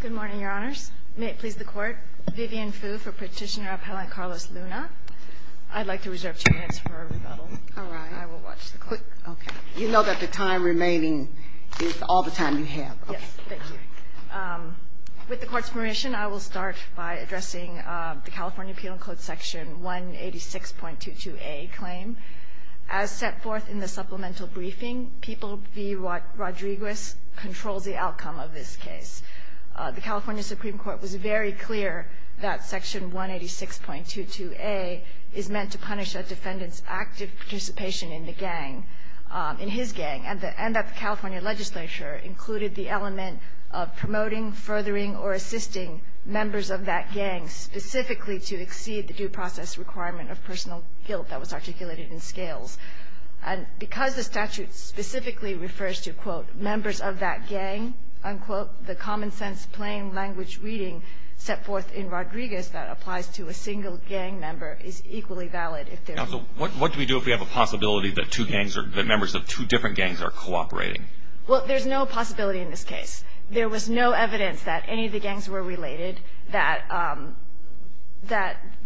Good morning, Your Honors. May it please the Court, Vivian Fu for Petitioner Appellant Carlos Luna. I'd like to reserve two minutes for rebuttal. All right. I will watch the clock. Okay. You know that the time remaining is all the time you have. Yes. Thank you. With the Court's permission, I will start by addressing the California Appeal and Code Section 186.22a claim. As set forth in the supplemental briefing, People v. Rodriguez controls the outcome of this case. The California Supreme Court was very clear that Section 186.22a is meant to punish a defendant's active participation in the gang, in his gang, and that the California legislature included the element of promoting, furthering, or assisting members of that gang specifically to exceed the due process requirement of personal guilt that was articulated in scales. And because the statute specifically refers to, quote, members of that gang, unquote, the common sense plain language reading set forth in Rodriguez that applies to a single gang member is equally valid. Counsel, what do we do if we have a possibility that two gangs or that members of two different gangs are cooperating? Well, there's no possibility in this case. There was no evidence that any of the gangs were related, that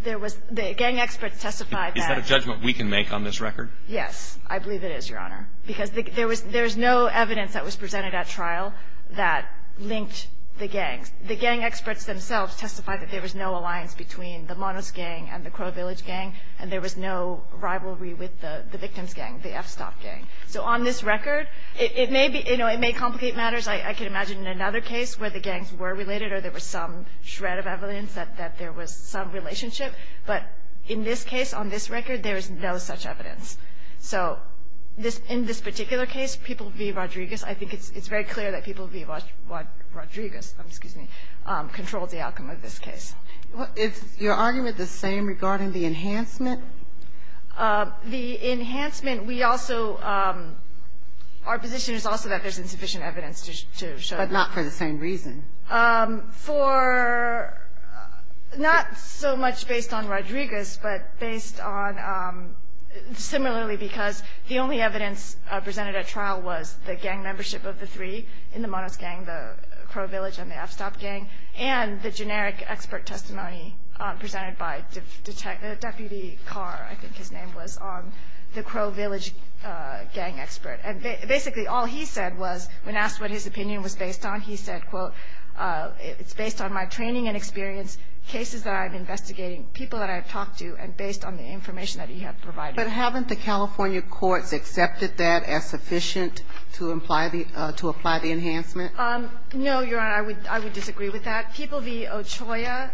there was the gang experts testified that. Is that a judgment we can make on this record? Yes. I believe it is, Your Honor. Because there was no evidence that was presented at trial that linked the gangs. The gang experts themselves testified that there was no alliance between the Monos gang and the Crow Village gang, and there was no rivalry with the victim's gang, the F-Stop gang. So on this record, it may be, you know, it may complicate matters. I can imagine in another case where the gangs were related or there was some shred of evidence that there was some relationship. But in this case, on this record, there is no such evidence. So in this particular case, people v. Rodriguez, I think it's very clear that people v. Rodriguez controlled the outcome of this case. Is your argument the same regarding the enhancement? The enhancement, we also, our position is also that there's insufficient evidence to show that. But not for the same reason. For not so much based on Rodriguez, but based on similarly because the only evidence presented at trial was the gang membership of the three in the Monos gang, the Crow Village gang expert. And basically all he said was, when asked what his opinion was based on, he said, quote, it's based on my training and experience, cases that I've been investigating, people that I've talked to, and based on the information that he had provided. But haven't the California courts accepted that as sufficient to imply the, to apply the enhancement? No, Your Honor. I would disagree with that. People v. Ochoa,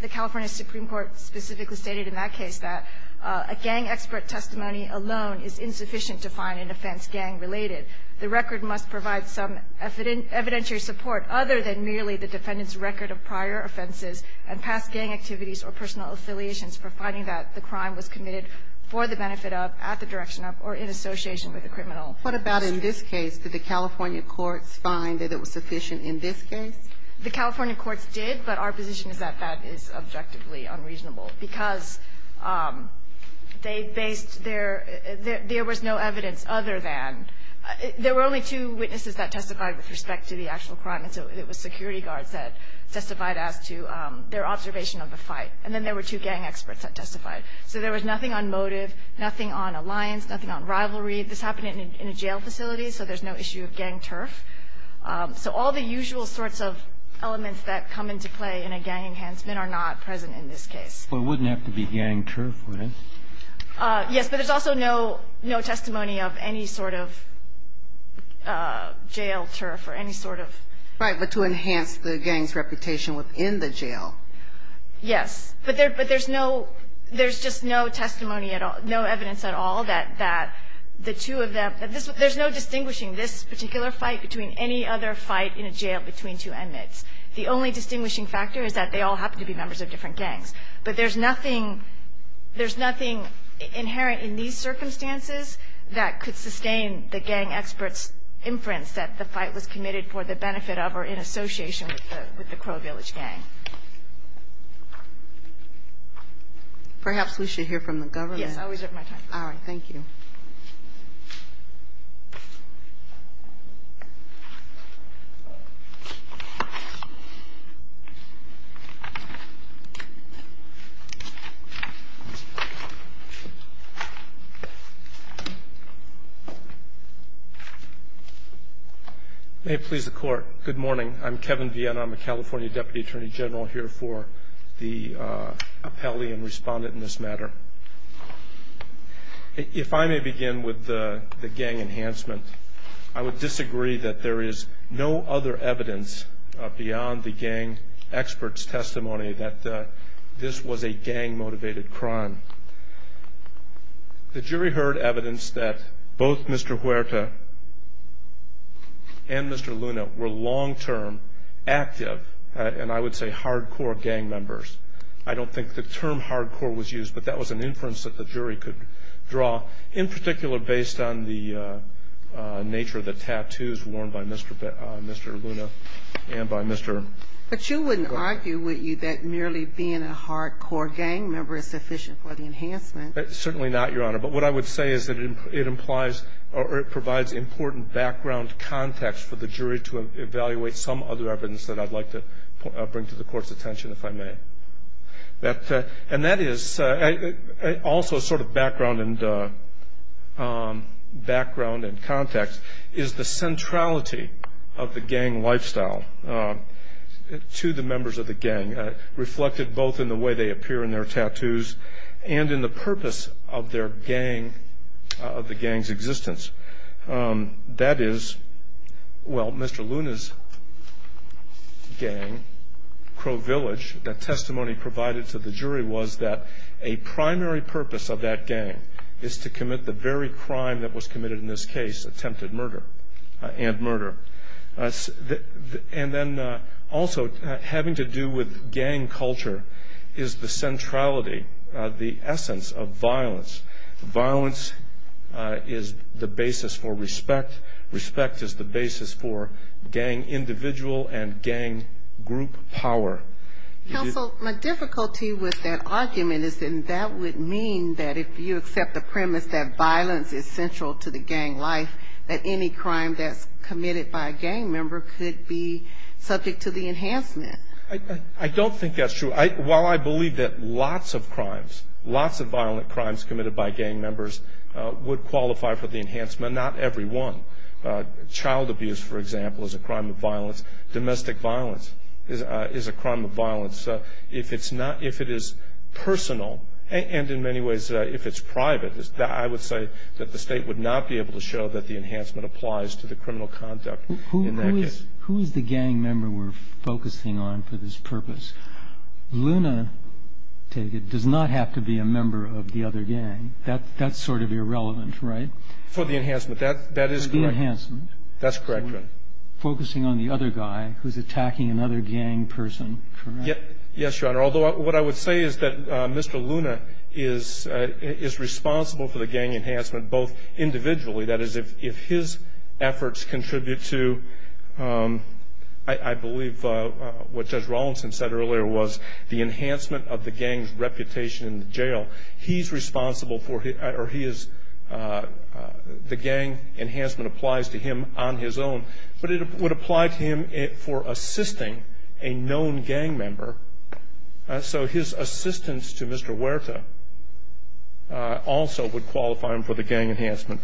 the California Supreme Court specifically stated in that case that a gang expert testimony alone is insufficient to find an offense gang-related. The record must provide some evidentiary support other than merely the defendant's record of prior offenses and past gang activities or personal affiliations for finding that the crime was committed for the benefit of, at the direction of, or in association with the criminal. What about in this case? Did the California courts find that it was sufficient in this case? The California courts did, but our position is that that is objectively unreasonable because they based their, there was no evidence other than, there were only two witnesses that testified with respect to the actual crime, and so it was security guards that testified as to their observation of the fight. And then there were two gang experts that testified. So there was nothing on motive, nothing on alliance, nothing on rivalry. This happened in a jail facility, so there's no issue of gang turf. So all the usual sorts of elements that come into play in a gang enhancement are not present in this case. But it wouldn't have to be gang turf, would it? Yes, but there's also no testimony of any sort of jail turf or any sort of. Right. But to enhance the gang's reputation within the jail. Yes. But there's no, there's just no testimony at all, no evidence at all that the two of them, there's no distinguishing this particular fight between any other fight in a jail between two inmates. The only distinguishing factor is that they all happen to be members of different gangs. But there's nothing, there's nothing inherent in these circumstances that could sustain the gang experts' inference that the fight was committed for the benefit of or in association with the Crow Village gang. Perhaps we should hear from the government. Yes, I'll reserve my time. All right. Thank you. May it please the Court. Good morning. I'm Kevin Vienna. I'm a California Deputy Attorney General here for the appellee and respondent in this matter. If I may begin with the gang enhancement, I would disagree that there is no other evidence beyond the gang experts' testimony that this was a gang-motivated crime. The jury heard evidence that both Mr. Huerta and Mr. Luna were long-term active, and I would say hardcore, gang members. I don't think the term hardcore was used, but that was an inference that the jury could draw, in particular based on the nature of the tattoos worn by Mr. Luna and by Mr. Huerta. But you wouldn't argue, would you, that merely being a hardcore gang member is sufficient for the enhancement? Certainly not, Your Honor. But what I would say is that it implies or it provides important background context for the jury to evaluate some other evidence that I'd like to bring to the court. And that is also sort of background and context is the centrality of the gang lifestyle to the members of the gang, reflected both in the way they appear in their tattoos and in the purpose of the gang's existence. That is, well, Mr. Luna's gang, Crow Village, the testimony provided to the jury was that a primary purpose of that gang is to commit the very crime that was committed in this case, attempted murder and murder. And then also having to do with gang culture is the centrality, the essence of violence. Violence is the basis for respect. Respect is the basis for gang individual and gang group power. Counsel, my difficulty with that argument is that that would mean that if you accept the premise that violence is central to the gang life, that any crime that's committed by a gang member could be subject to the enhancement. I don't think that's true. While I believe that lots of crimes, lots of violent crimes committed by gang members would qualify for the enhancement, not every one. Child abuse, for example, is a crime of violence. Domestic violence is a crime of violence. If it's not, if it is personal, and in many ways if it's private, I would say that the state would not be able to show that the enhancement applies to the criminal conduct in that case. Who is the gang member we're focusing on for this purpose? Luna, take it, does not have to be a member of the other gang. That's sort of irrelevant, right? For the enhancement. That is correct. For the enhancement. That's correct. Focusing on the other guy who's attacking another gang person, correct? Yes, Your Honor. Although what I would say is that Mr. Luna is responsible for the gang enhancement both individually, that is if his efforts contribute to, I believe what Judge Rawlinson said earlier, was the enhancement of the gang's reputation in the jail. He's responsible for, or he is, the gang enhancement applies to him on his own. But it would apply to him for assisting a known gang member. So his assistance to Mr. Huerta also would qualify him for the gang enhancement.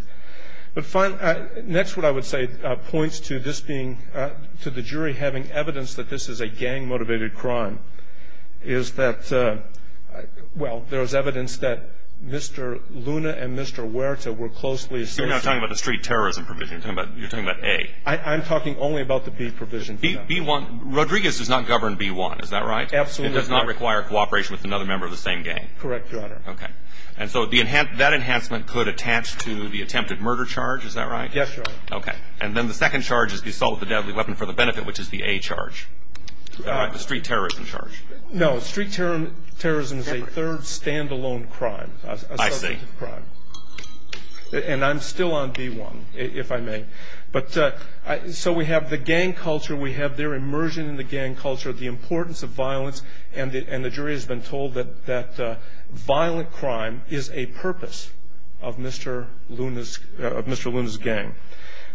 But finally, next what I would say points to this being, to the jury having evidence that this is a gang-motivated crime, is that, well, there is evidence that Mr. Luna and Mr. Huerta were closely associated. You're not talking about the street terrorism provision. You're talking about A. I'm talking only about the B provision. B1. Rodriguez does not govern B1, is that right? Absolutely not. It does not require cooperation with another member of the same gang. Correct, Your Honor. Okay. And so that enhancement could attach to the attempted murder charge, is that right? Yes, Your Honor. Okay. And then the second charge is the assault with a deadly weapon for the benefit, which is the A charge. The street terrorism charge. No, street terrorism is a third stand-alone crime. I see. And I'm still on B1, if I may. But so we have the gang culture, we have their immersion in the gang culture, the importance of violence, and the jury has been told that violent crime is a purpose of Mr. Luna's gang.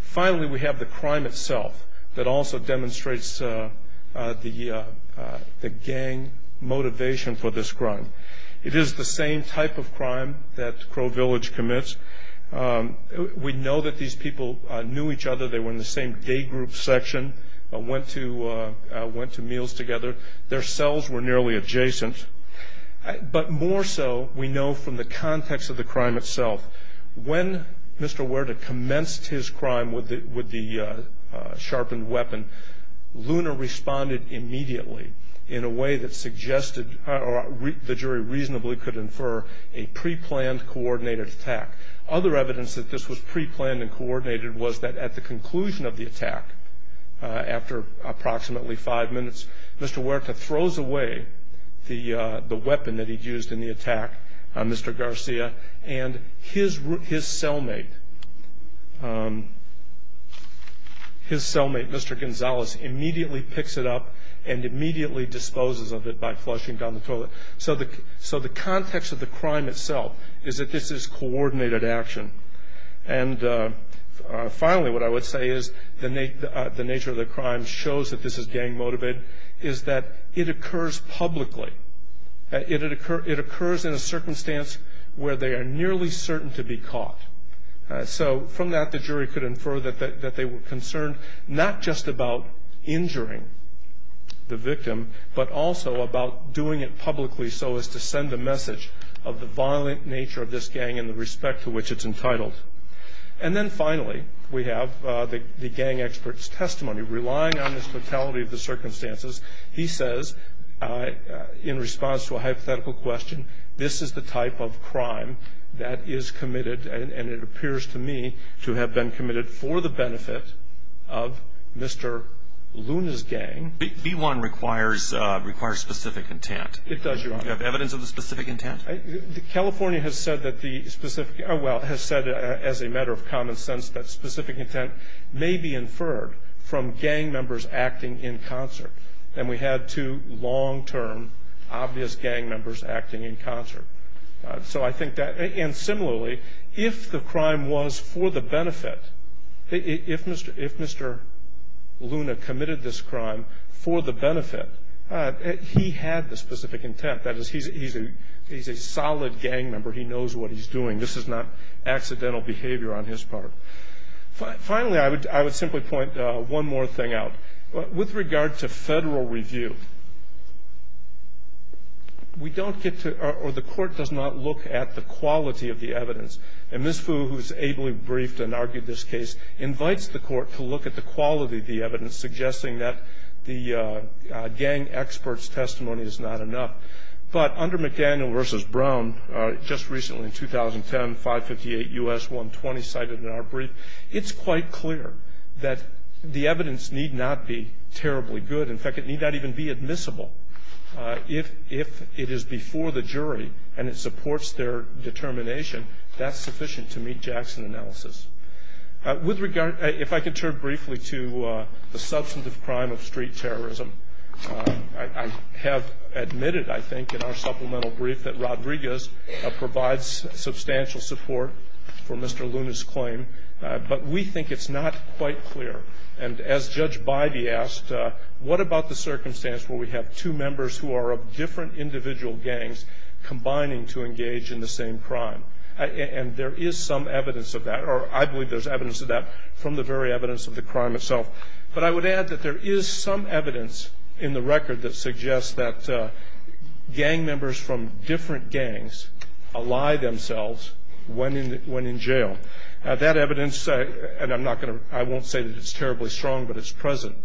Finally, we have the crime itself that also demonstrates the gang motivation for this crime. It is the same type of crime that Crow Village commits. We know that these people knew each other. They were in the same gay group section, went to meals together. Their cells were nearly adjacent. But more so we know from the context of the crime itself. When Mr. Huerta commenced his crime with the sharpened weapon, Luna responded immediately in a way that suggested or the jury reasonably could infer a preplanned, coordinated attack. Other evidence that this was preplanned and coordinated was that at the conclusion of the attack, after approximately five minutes, Mr. Huerta throws away the weapon that he'd used in the attack, Mr. Garcia, and his cellmate, Mr. Gonzalez, immediately picks it up and immediately disposes of it by flushing down the toilet. So the context of the crime itself is that this is coordinated action. And finally, what I would say is the nature of the crime shows that this is gang motivated, is that it occurs publicly. It occurs in a circumstance where they are nearly certain to be caught. So from that, the jury could infer that they were concerned not just about injuring the victim, but also about doing it publicly so as to send a message of the violent nature of this gang and the respect to which it's entitled. And then finally, we have the gang expert's testimony. Relying on the totality of the circumstances, he says, in response to a hypothetical question, this is the type of crime that is committed, and it appears to me to have been committed for the benefit of Mr. Luna's gang. B-1 requires specific intent. It does, Your Honor. Do you have evidence of the specific intent? California has said that the specific – well, has said, as a matter of common sense, that specific intent may be inferred from gang members acting in concert. And we had two long-term obvious gang members acting in concert. So I think that – and similarly, if the crime was for the benefit, if Mr. Luna committed this crime for the benefit, he had the specific intent. That is, he's a solid gang member. He knows what he's doing. This is not accidental behavior on his part. Finally, I would simply point one more thing out. With regard to federal review, we don't get to – or the Court does not look at the quality of the evidence. And Ms. Fu, who has ably briefed and argued this case, invites the Court to look at the quality of the evidence, suggesting that the gang expert's testimony is not enough. But under McDaniel v. Brown, just recently in 2010, 558 U.S. 120 cited in our brief, it's quite clear that the evidence need not be terribly good. In fact, it need not even be admissible. If it is before the jury and it supports their determination, that's sufficient to meet Jackson analysis. With regard – if I could turn briefly to the substantive crime of street terrorism, I have admitted, I think, in our supplemental brief, that Rodriguez provides substantial support for Mr. Luna's claim. But we think it's not quite clear. And as Judge Bybee asked, what about the circumstance where we have two members who are of different individual gangs combining to engage in the same crime? And there is some evidence of that, or I believe there's evidence of that, from the very evidence of the crime itself. But I would add that there is some evidence in the record that suggests that gang members from different gangs ally themselves when in jail. That evidence – and I'm not going to – I won't say that it's terribly strong, but it's present.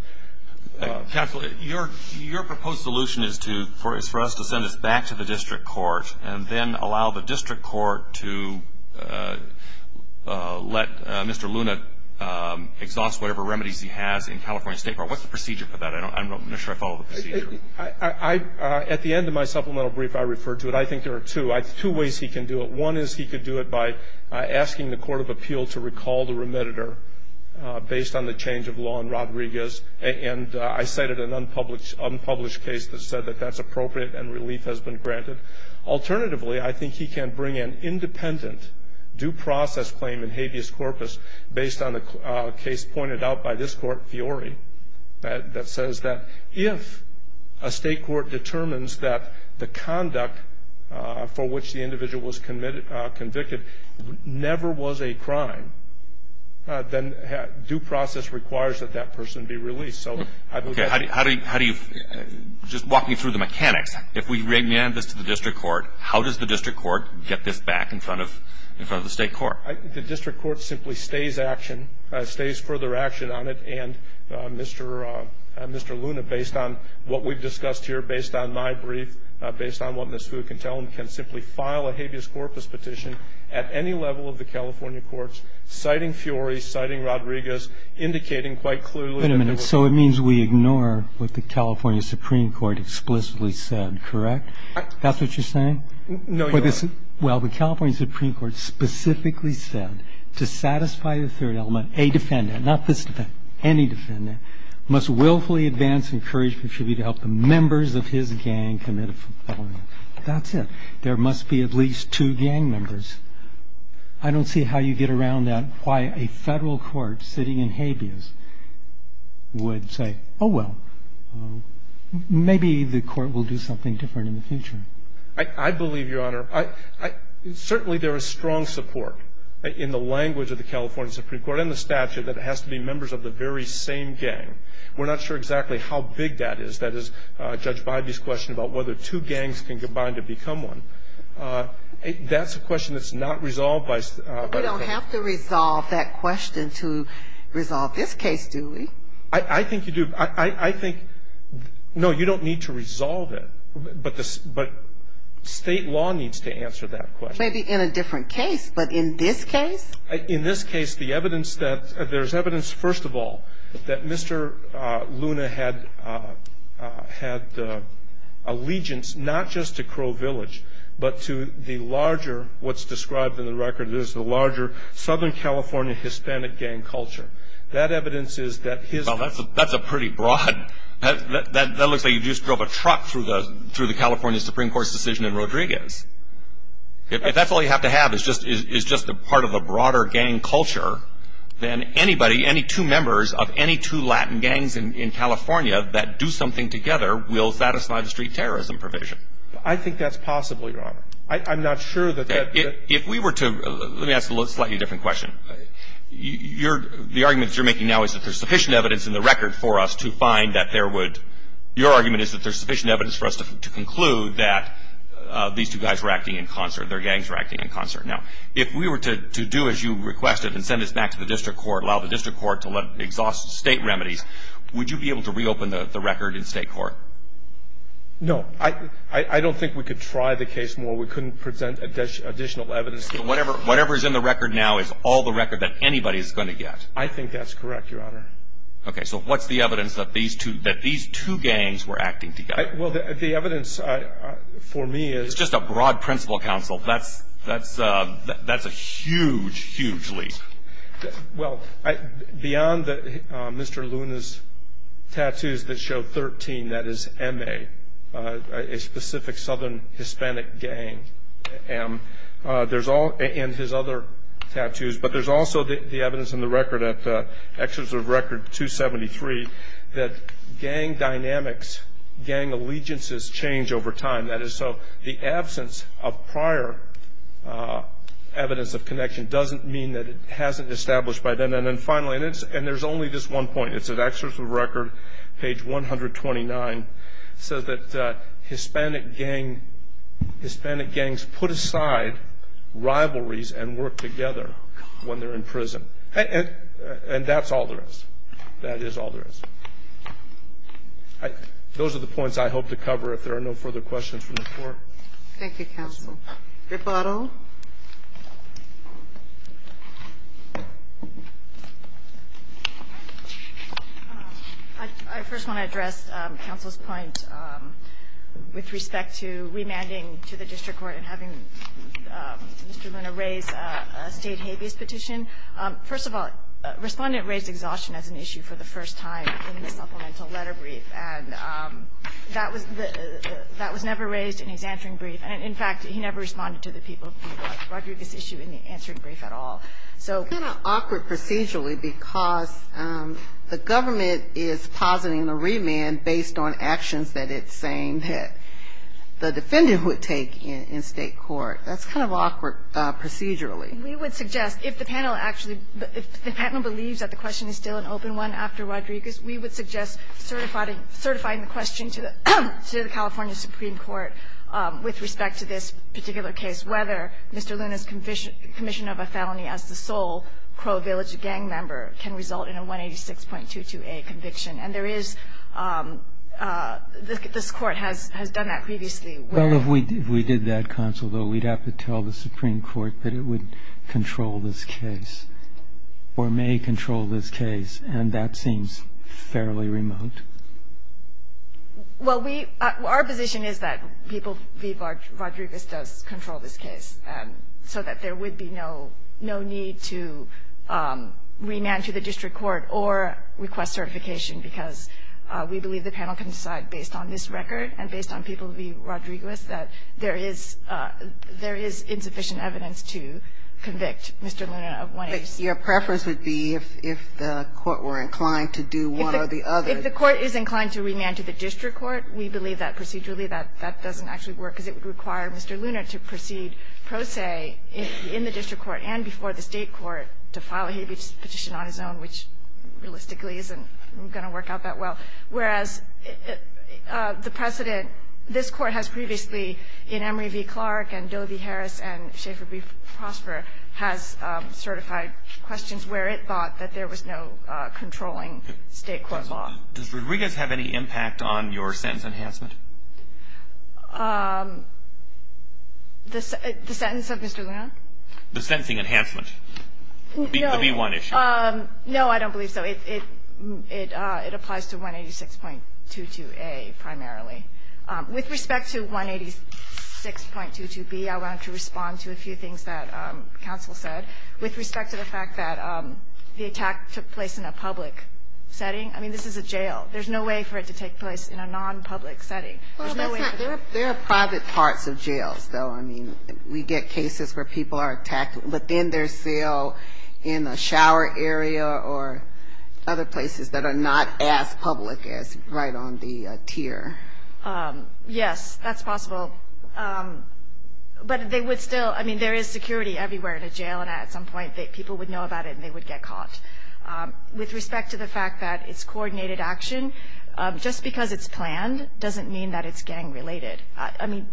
Your proposed solution is to – is for us to send this back to the district court and then allow the district court to let Mr. Luna exhaust whatever remedies he has in California State court. What's the procedure for that? I'm not sure I follow the procedure. At the end of my supplemental brief, I referred to it. I think there are two. Two ways he can do it. One is he could do it by asking the court of appeal to recall the remediator based on the change of law in Rodriguez. And I cited an unpublished case that said that that's appropriate and relief has been granted. Alternatively, I think he can bring an independent due process claim in habeas corpus based on a case pointed out by this court, that says that if a state court determines that the conduct for which the individual was convicted never was a crime, then due process requires that that person be released. Okay. How do you – just walk me through the mechanics. If we remand this to the district court, how does the district court get this back in front of the state court? The district court simply stays action, stays further action on it. And Mr. Luna, based on what we've discussed here, based on my brief, based on what Ms. Fu can tell him, can simply file a habeas corpus petition at any level of the California courts, citing Fiori, citing Rodriguez, indicating quite clearly that it was – Wait a minute. So it means we ignore what the California Supreme Court explicitly said, correct? That's what you're saying? No, Your Honor. Well, the California Supreme Court specifically said to satisfy the third element, a defendant, not this defendant, any defendant, must willfully advance and courage contribute to help the members of his gang commit a felony. That's it. There must be at least two gang members. I don't see how you get around that, why a federal court sitting in habeas would say, oh, well, maybe the court will do something different in the future. I believe, Your Honor, certainly there is strong support in the language of the California Supreme Court and the statute that it has to be members of the very same gang. We're not sure exactly how big that is. That is Judge Bybee's question about whether two gangs can combine to become one. That's a question that's not resolved by the federal court. We don't have to resolve that question to resolve this case, do we? I think you do. I think, no, you don't need to resolve it. But state law needs to answer that question. Maybe in a different case, but in this case? In this case, the evidence that there's evidence, first of all, that Mr. Luna had allegiance not just to Crow Village but to the larger, what's described in the record is the larger Southern California Hispanic gang culture. That evidence is that his ---- Well, that's a pretty broad ---- That looks like you just drove a truck through the California Supreme Court's decision in Rodriguez. If that's all you have to have is just a part of a broader gang culture, then anybody, any two members of any two Latin gangs in California that do something together will satisfy the street terrorism provision. I think that's possible, Your Honor. I'm not sure that that ---- If we were to ---- let me ask a slightly different question. Your argument that you're making now is that there's sufficient evidence in the record for us to find that there would ---- Your argument is that there's sufficient evidence for us to conclude that these two guys were acting in concert, their gangs were acting in concert. Now, if we were to do as you requested and send this back to the district court, allow the district court to exhaust state remedies, would you be able to reopen the record in state court? No. I don't think we could try the case more. We couldn't present additional evidence. Whatever is in the record now is all the record that anybody is going to get. I think that's correct, Your Honor. Okay. So what's the evidence that these two gangs were acting together? Well, the evidence for me is ---- It's just a broad principle, counsel. That's a huge, huge leap. Well, beyond Mr. Luna's tattoos that show 13, that is MA, a specific southern Hispanic gang, and his other tattoos, but there's also the evidence in the record at Excerpt of Record 273 that gang dynamics, gang allegiances change over time. That is so the absence of prior evidence of connection doesn't mean that it hasn't established by then. And then finally, and there's only this one point, it's at Excerpt of Record, page 129, it says that Hispanic gangs put aside rivalries and work together when they're in prison. And that's all there is. That is all there is. Those are the points I hope to cover. If there are no further questions from the court. Thank you, counsel. Rebuttal. I first want to address counsel's point with respect to remanding to the district court and having Mr. Luna raise a State habeas petition. First of all, Respondent raised exhaustion as an issue for the first time in the supplemental letter brief, and that was the ---- that was never raised in his answering brief. In fact, he never responded to the people who brought Rodriguez's issue in the answering brief at all. So ---- It's kind of awkward procedurally because the government is positing a remand based on actions that it's saying that the defendant would take in State court. That's kind of awkward procedurally. We would suggest if the panel actually ---- if the panel believes that the question is still an open one after Rodriguez, we would suggest certifying the question to the California Supreme Court with respect to this particular case, whether Mr. Luna's commission of a felony as the sole Crow Village gang member can result in a 186.22a conviction. And there is ---- this Court has done that previously where ---- Well, if we did that, counsel, though, we'd have to tell the Supreme Court that it would control this case or may control this case, and that seems fairly remote. Well, we ---- our position is that People v. Rodriguez does control this case, so that there would be no need to remand to the district court or request certification because we believe the panel can decide based on this record and based on People v. Rodriguez that there is insufficient evidence to convict Mr. Luna of 186. But your preference would be if the Court were inclined to do one or the other. If the Court is inclined to remand to the district court, we believe that procedurally that doesn't actually work, because it would require Mr. Luna to proceed pro se in the district court and before the state court to file a habeas petition on his own, which realistically isn't going to work out that well. Whereas the precedent this Court has previously in Emory v. Clark and Doe v. Harris and Schaefer v. Prosper has certified questions where it thought that there was no controlling state court law. Does Rodriguez have any impact on your sentence enhancement? The sentence of Mr. Luna? The sentencing enhancement. No. The v. 1 issue. No, I don't believe so. It applies to 186.22a primarily. With respect to 186.22b, I wanted to respond to a few things that counsel said. With respect to the fact that the attack took place in a public setting. I mean, this is a jail. There's no way for it to take place in a nonpublic setting. There's no way. There are private parts of jails, though. I mean, we get cases where people are attacked within their cell, in a shower area, or other places that are not as public as right on the tier. Yes, that's possible. But they would still, I mean, there is security everywhere in a jail, and at some point people would know about it and they would get caught. With respect to the fact that it's coordinated action, just because it's planned doesn't mean that it's gang related. I mean,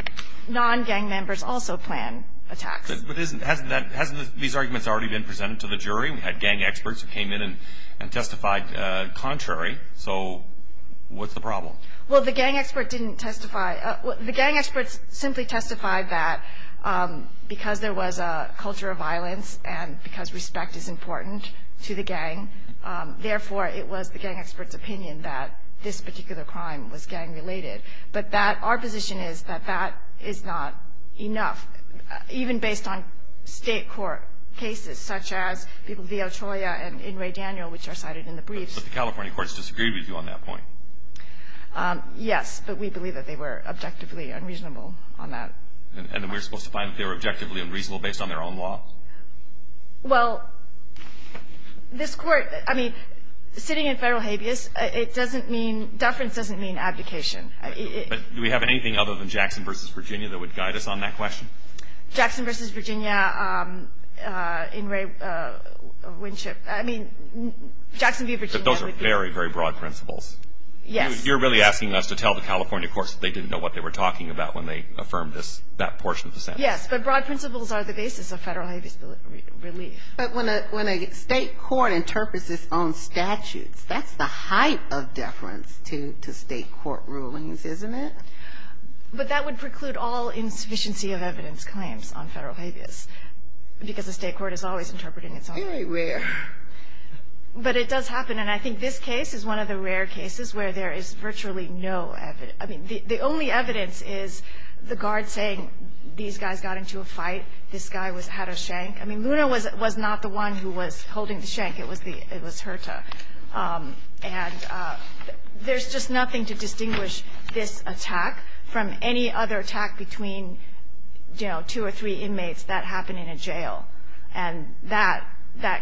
non-gang members also plan attacks. But hasn't these arguments already been presented to the jury? We had gang experts who came in and testified contrary. So what's the problem? Well, the gang expert didn't testify. The gang experts simply testified that because there was a culture of violence and because respect is important to the gang, therefore it was the gang expert's opinion that this particular crime was gang related. But our position is that that is not enough, even based on state court cases, such as people, V. L. Cholla and N. Ray Daniel, which are cited in the briefs. But the California courts disagreed with you on that point. Yes. But we believe that they were objectively unreasonable on that. And we're supposed to find that they were objectively unreasonable based on their own law? Well, this Court, I mean, sitting in federal habeas, it doesn't mean, deference doesn't mean abdication. But do we have anything other than Jackson v. Virginia that would guide us on that question? Jackson v. Virginia, N. Ray Winship, I mean, Jackson v. Virginia. But those are very, very broad principles. Yes. You're really asking us to tell the California courts they didn't know what they were talking about when they affirmed this, that portion of the sentence. Yes. But broad principles are the basis of federal habeas relief. But when a state court interprets its own statutes, that's the height of deference to state court rulings, isn't it? But that would preclude all insufficiency of evidence claims on federal habeas, because the state court is always interpreting its own. Very rare. But it does happen. And I think this case is one of the rare cases where there is virtually no evidence – I mean, the only evidence is the guard saying these guys got into a fight, this guy had a shank. I mean, Luna was not the one who was holding the shank. It was Herta. And there's just nothing to distinguish this attack from any other attack between, you know, two or three inmates that happened in a jail. And that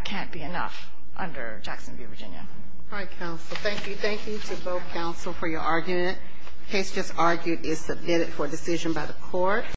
can't be enough under Jacksonville, Virginia. All right, counsel. Thank you. Thank you to both counsel for your argument. The case just argued is submitted for decision by the Court. Thank you.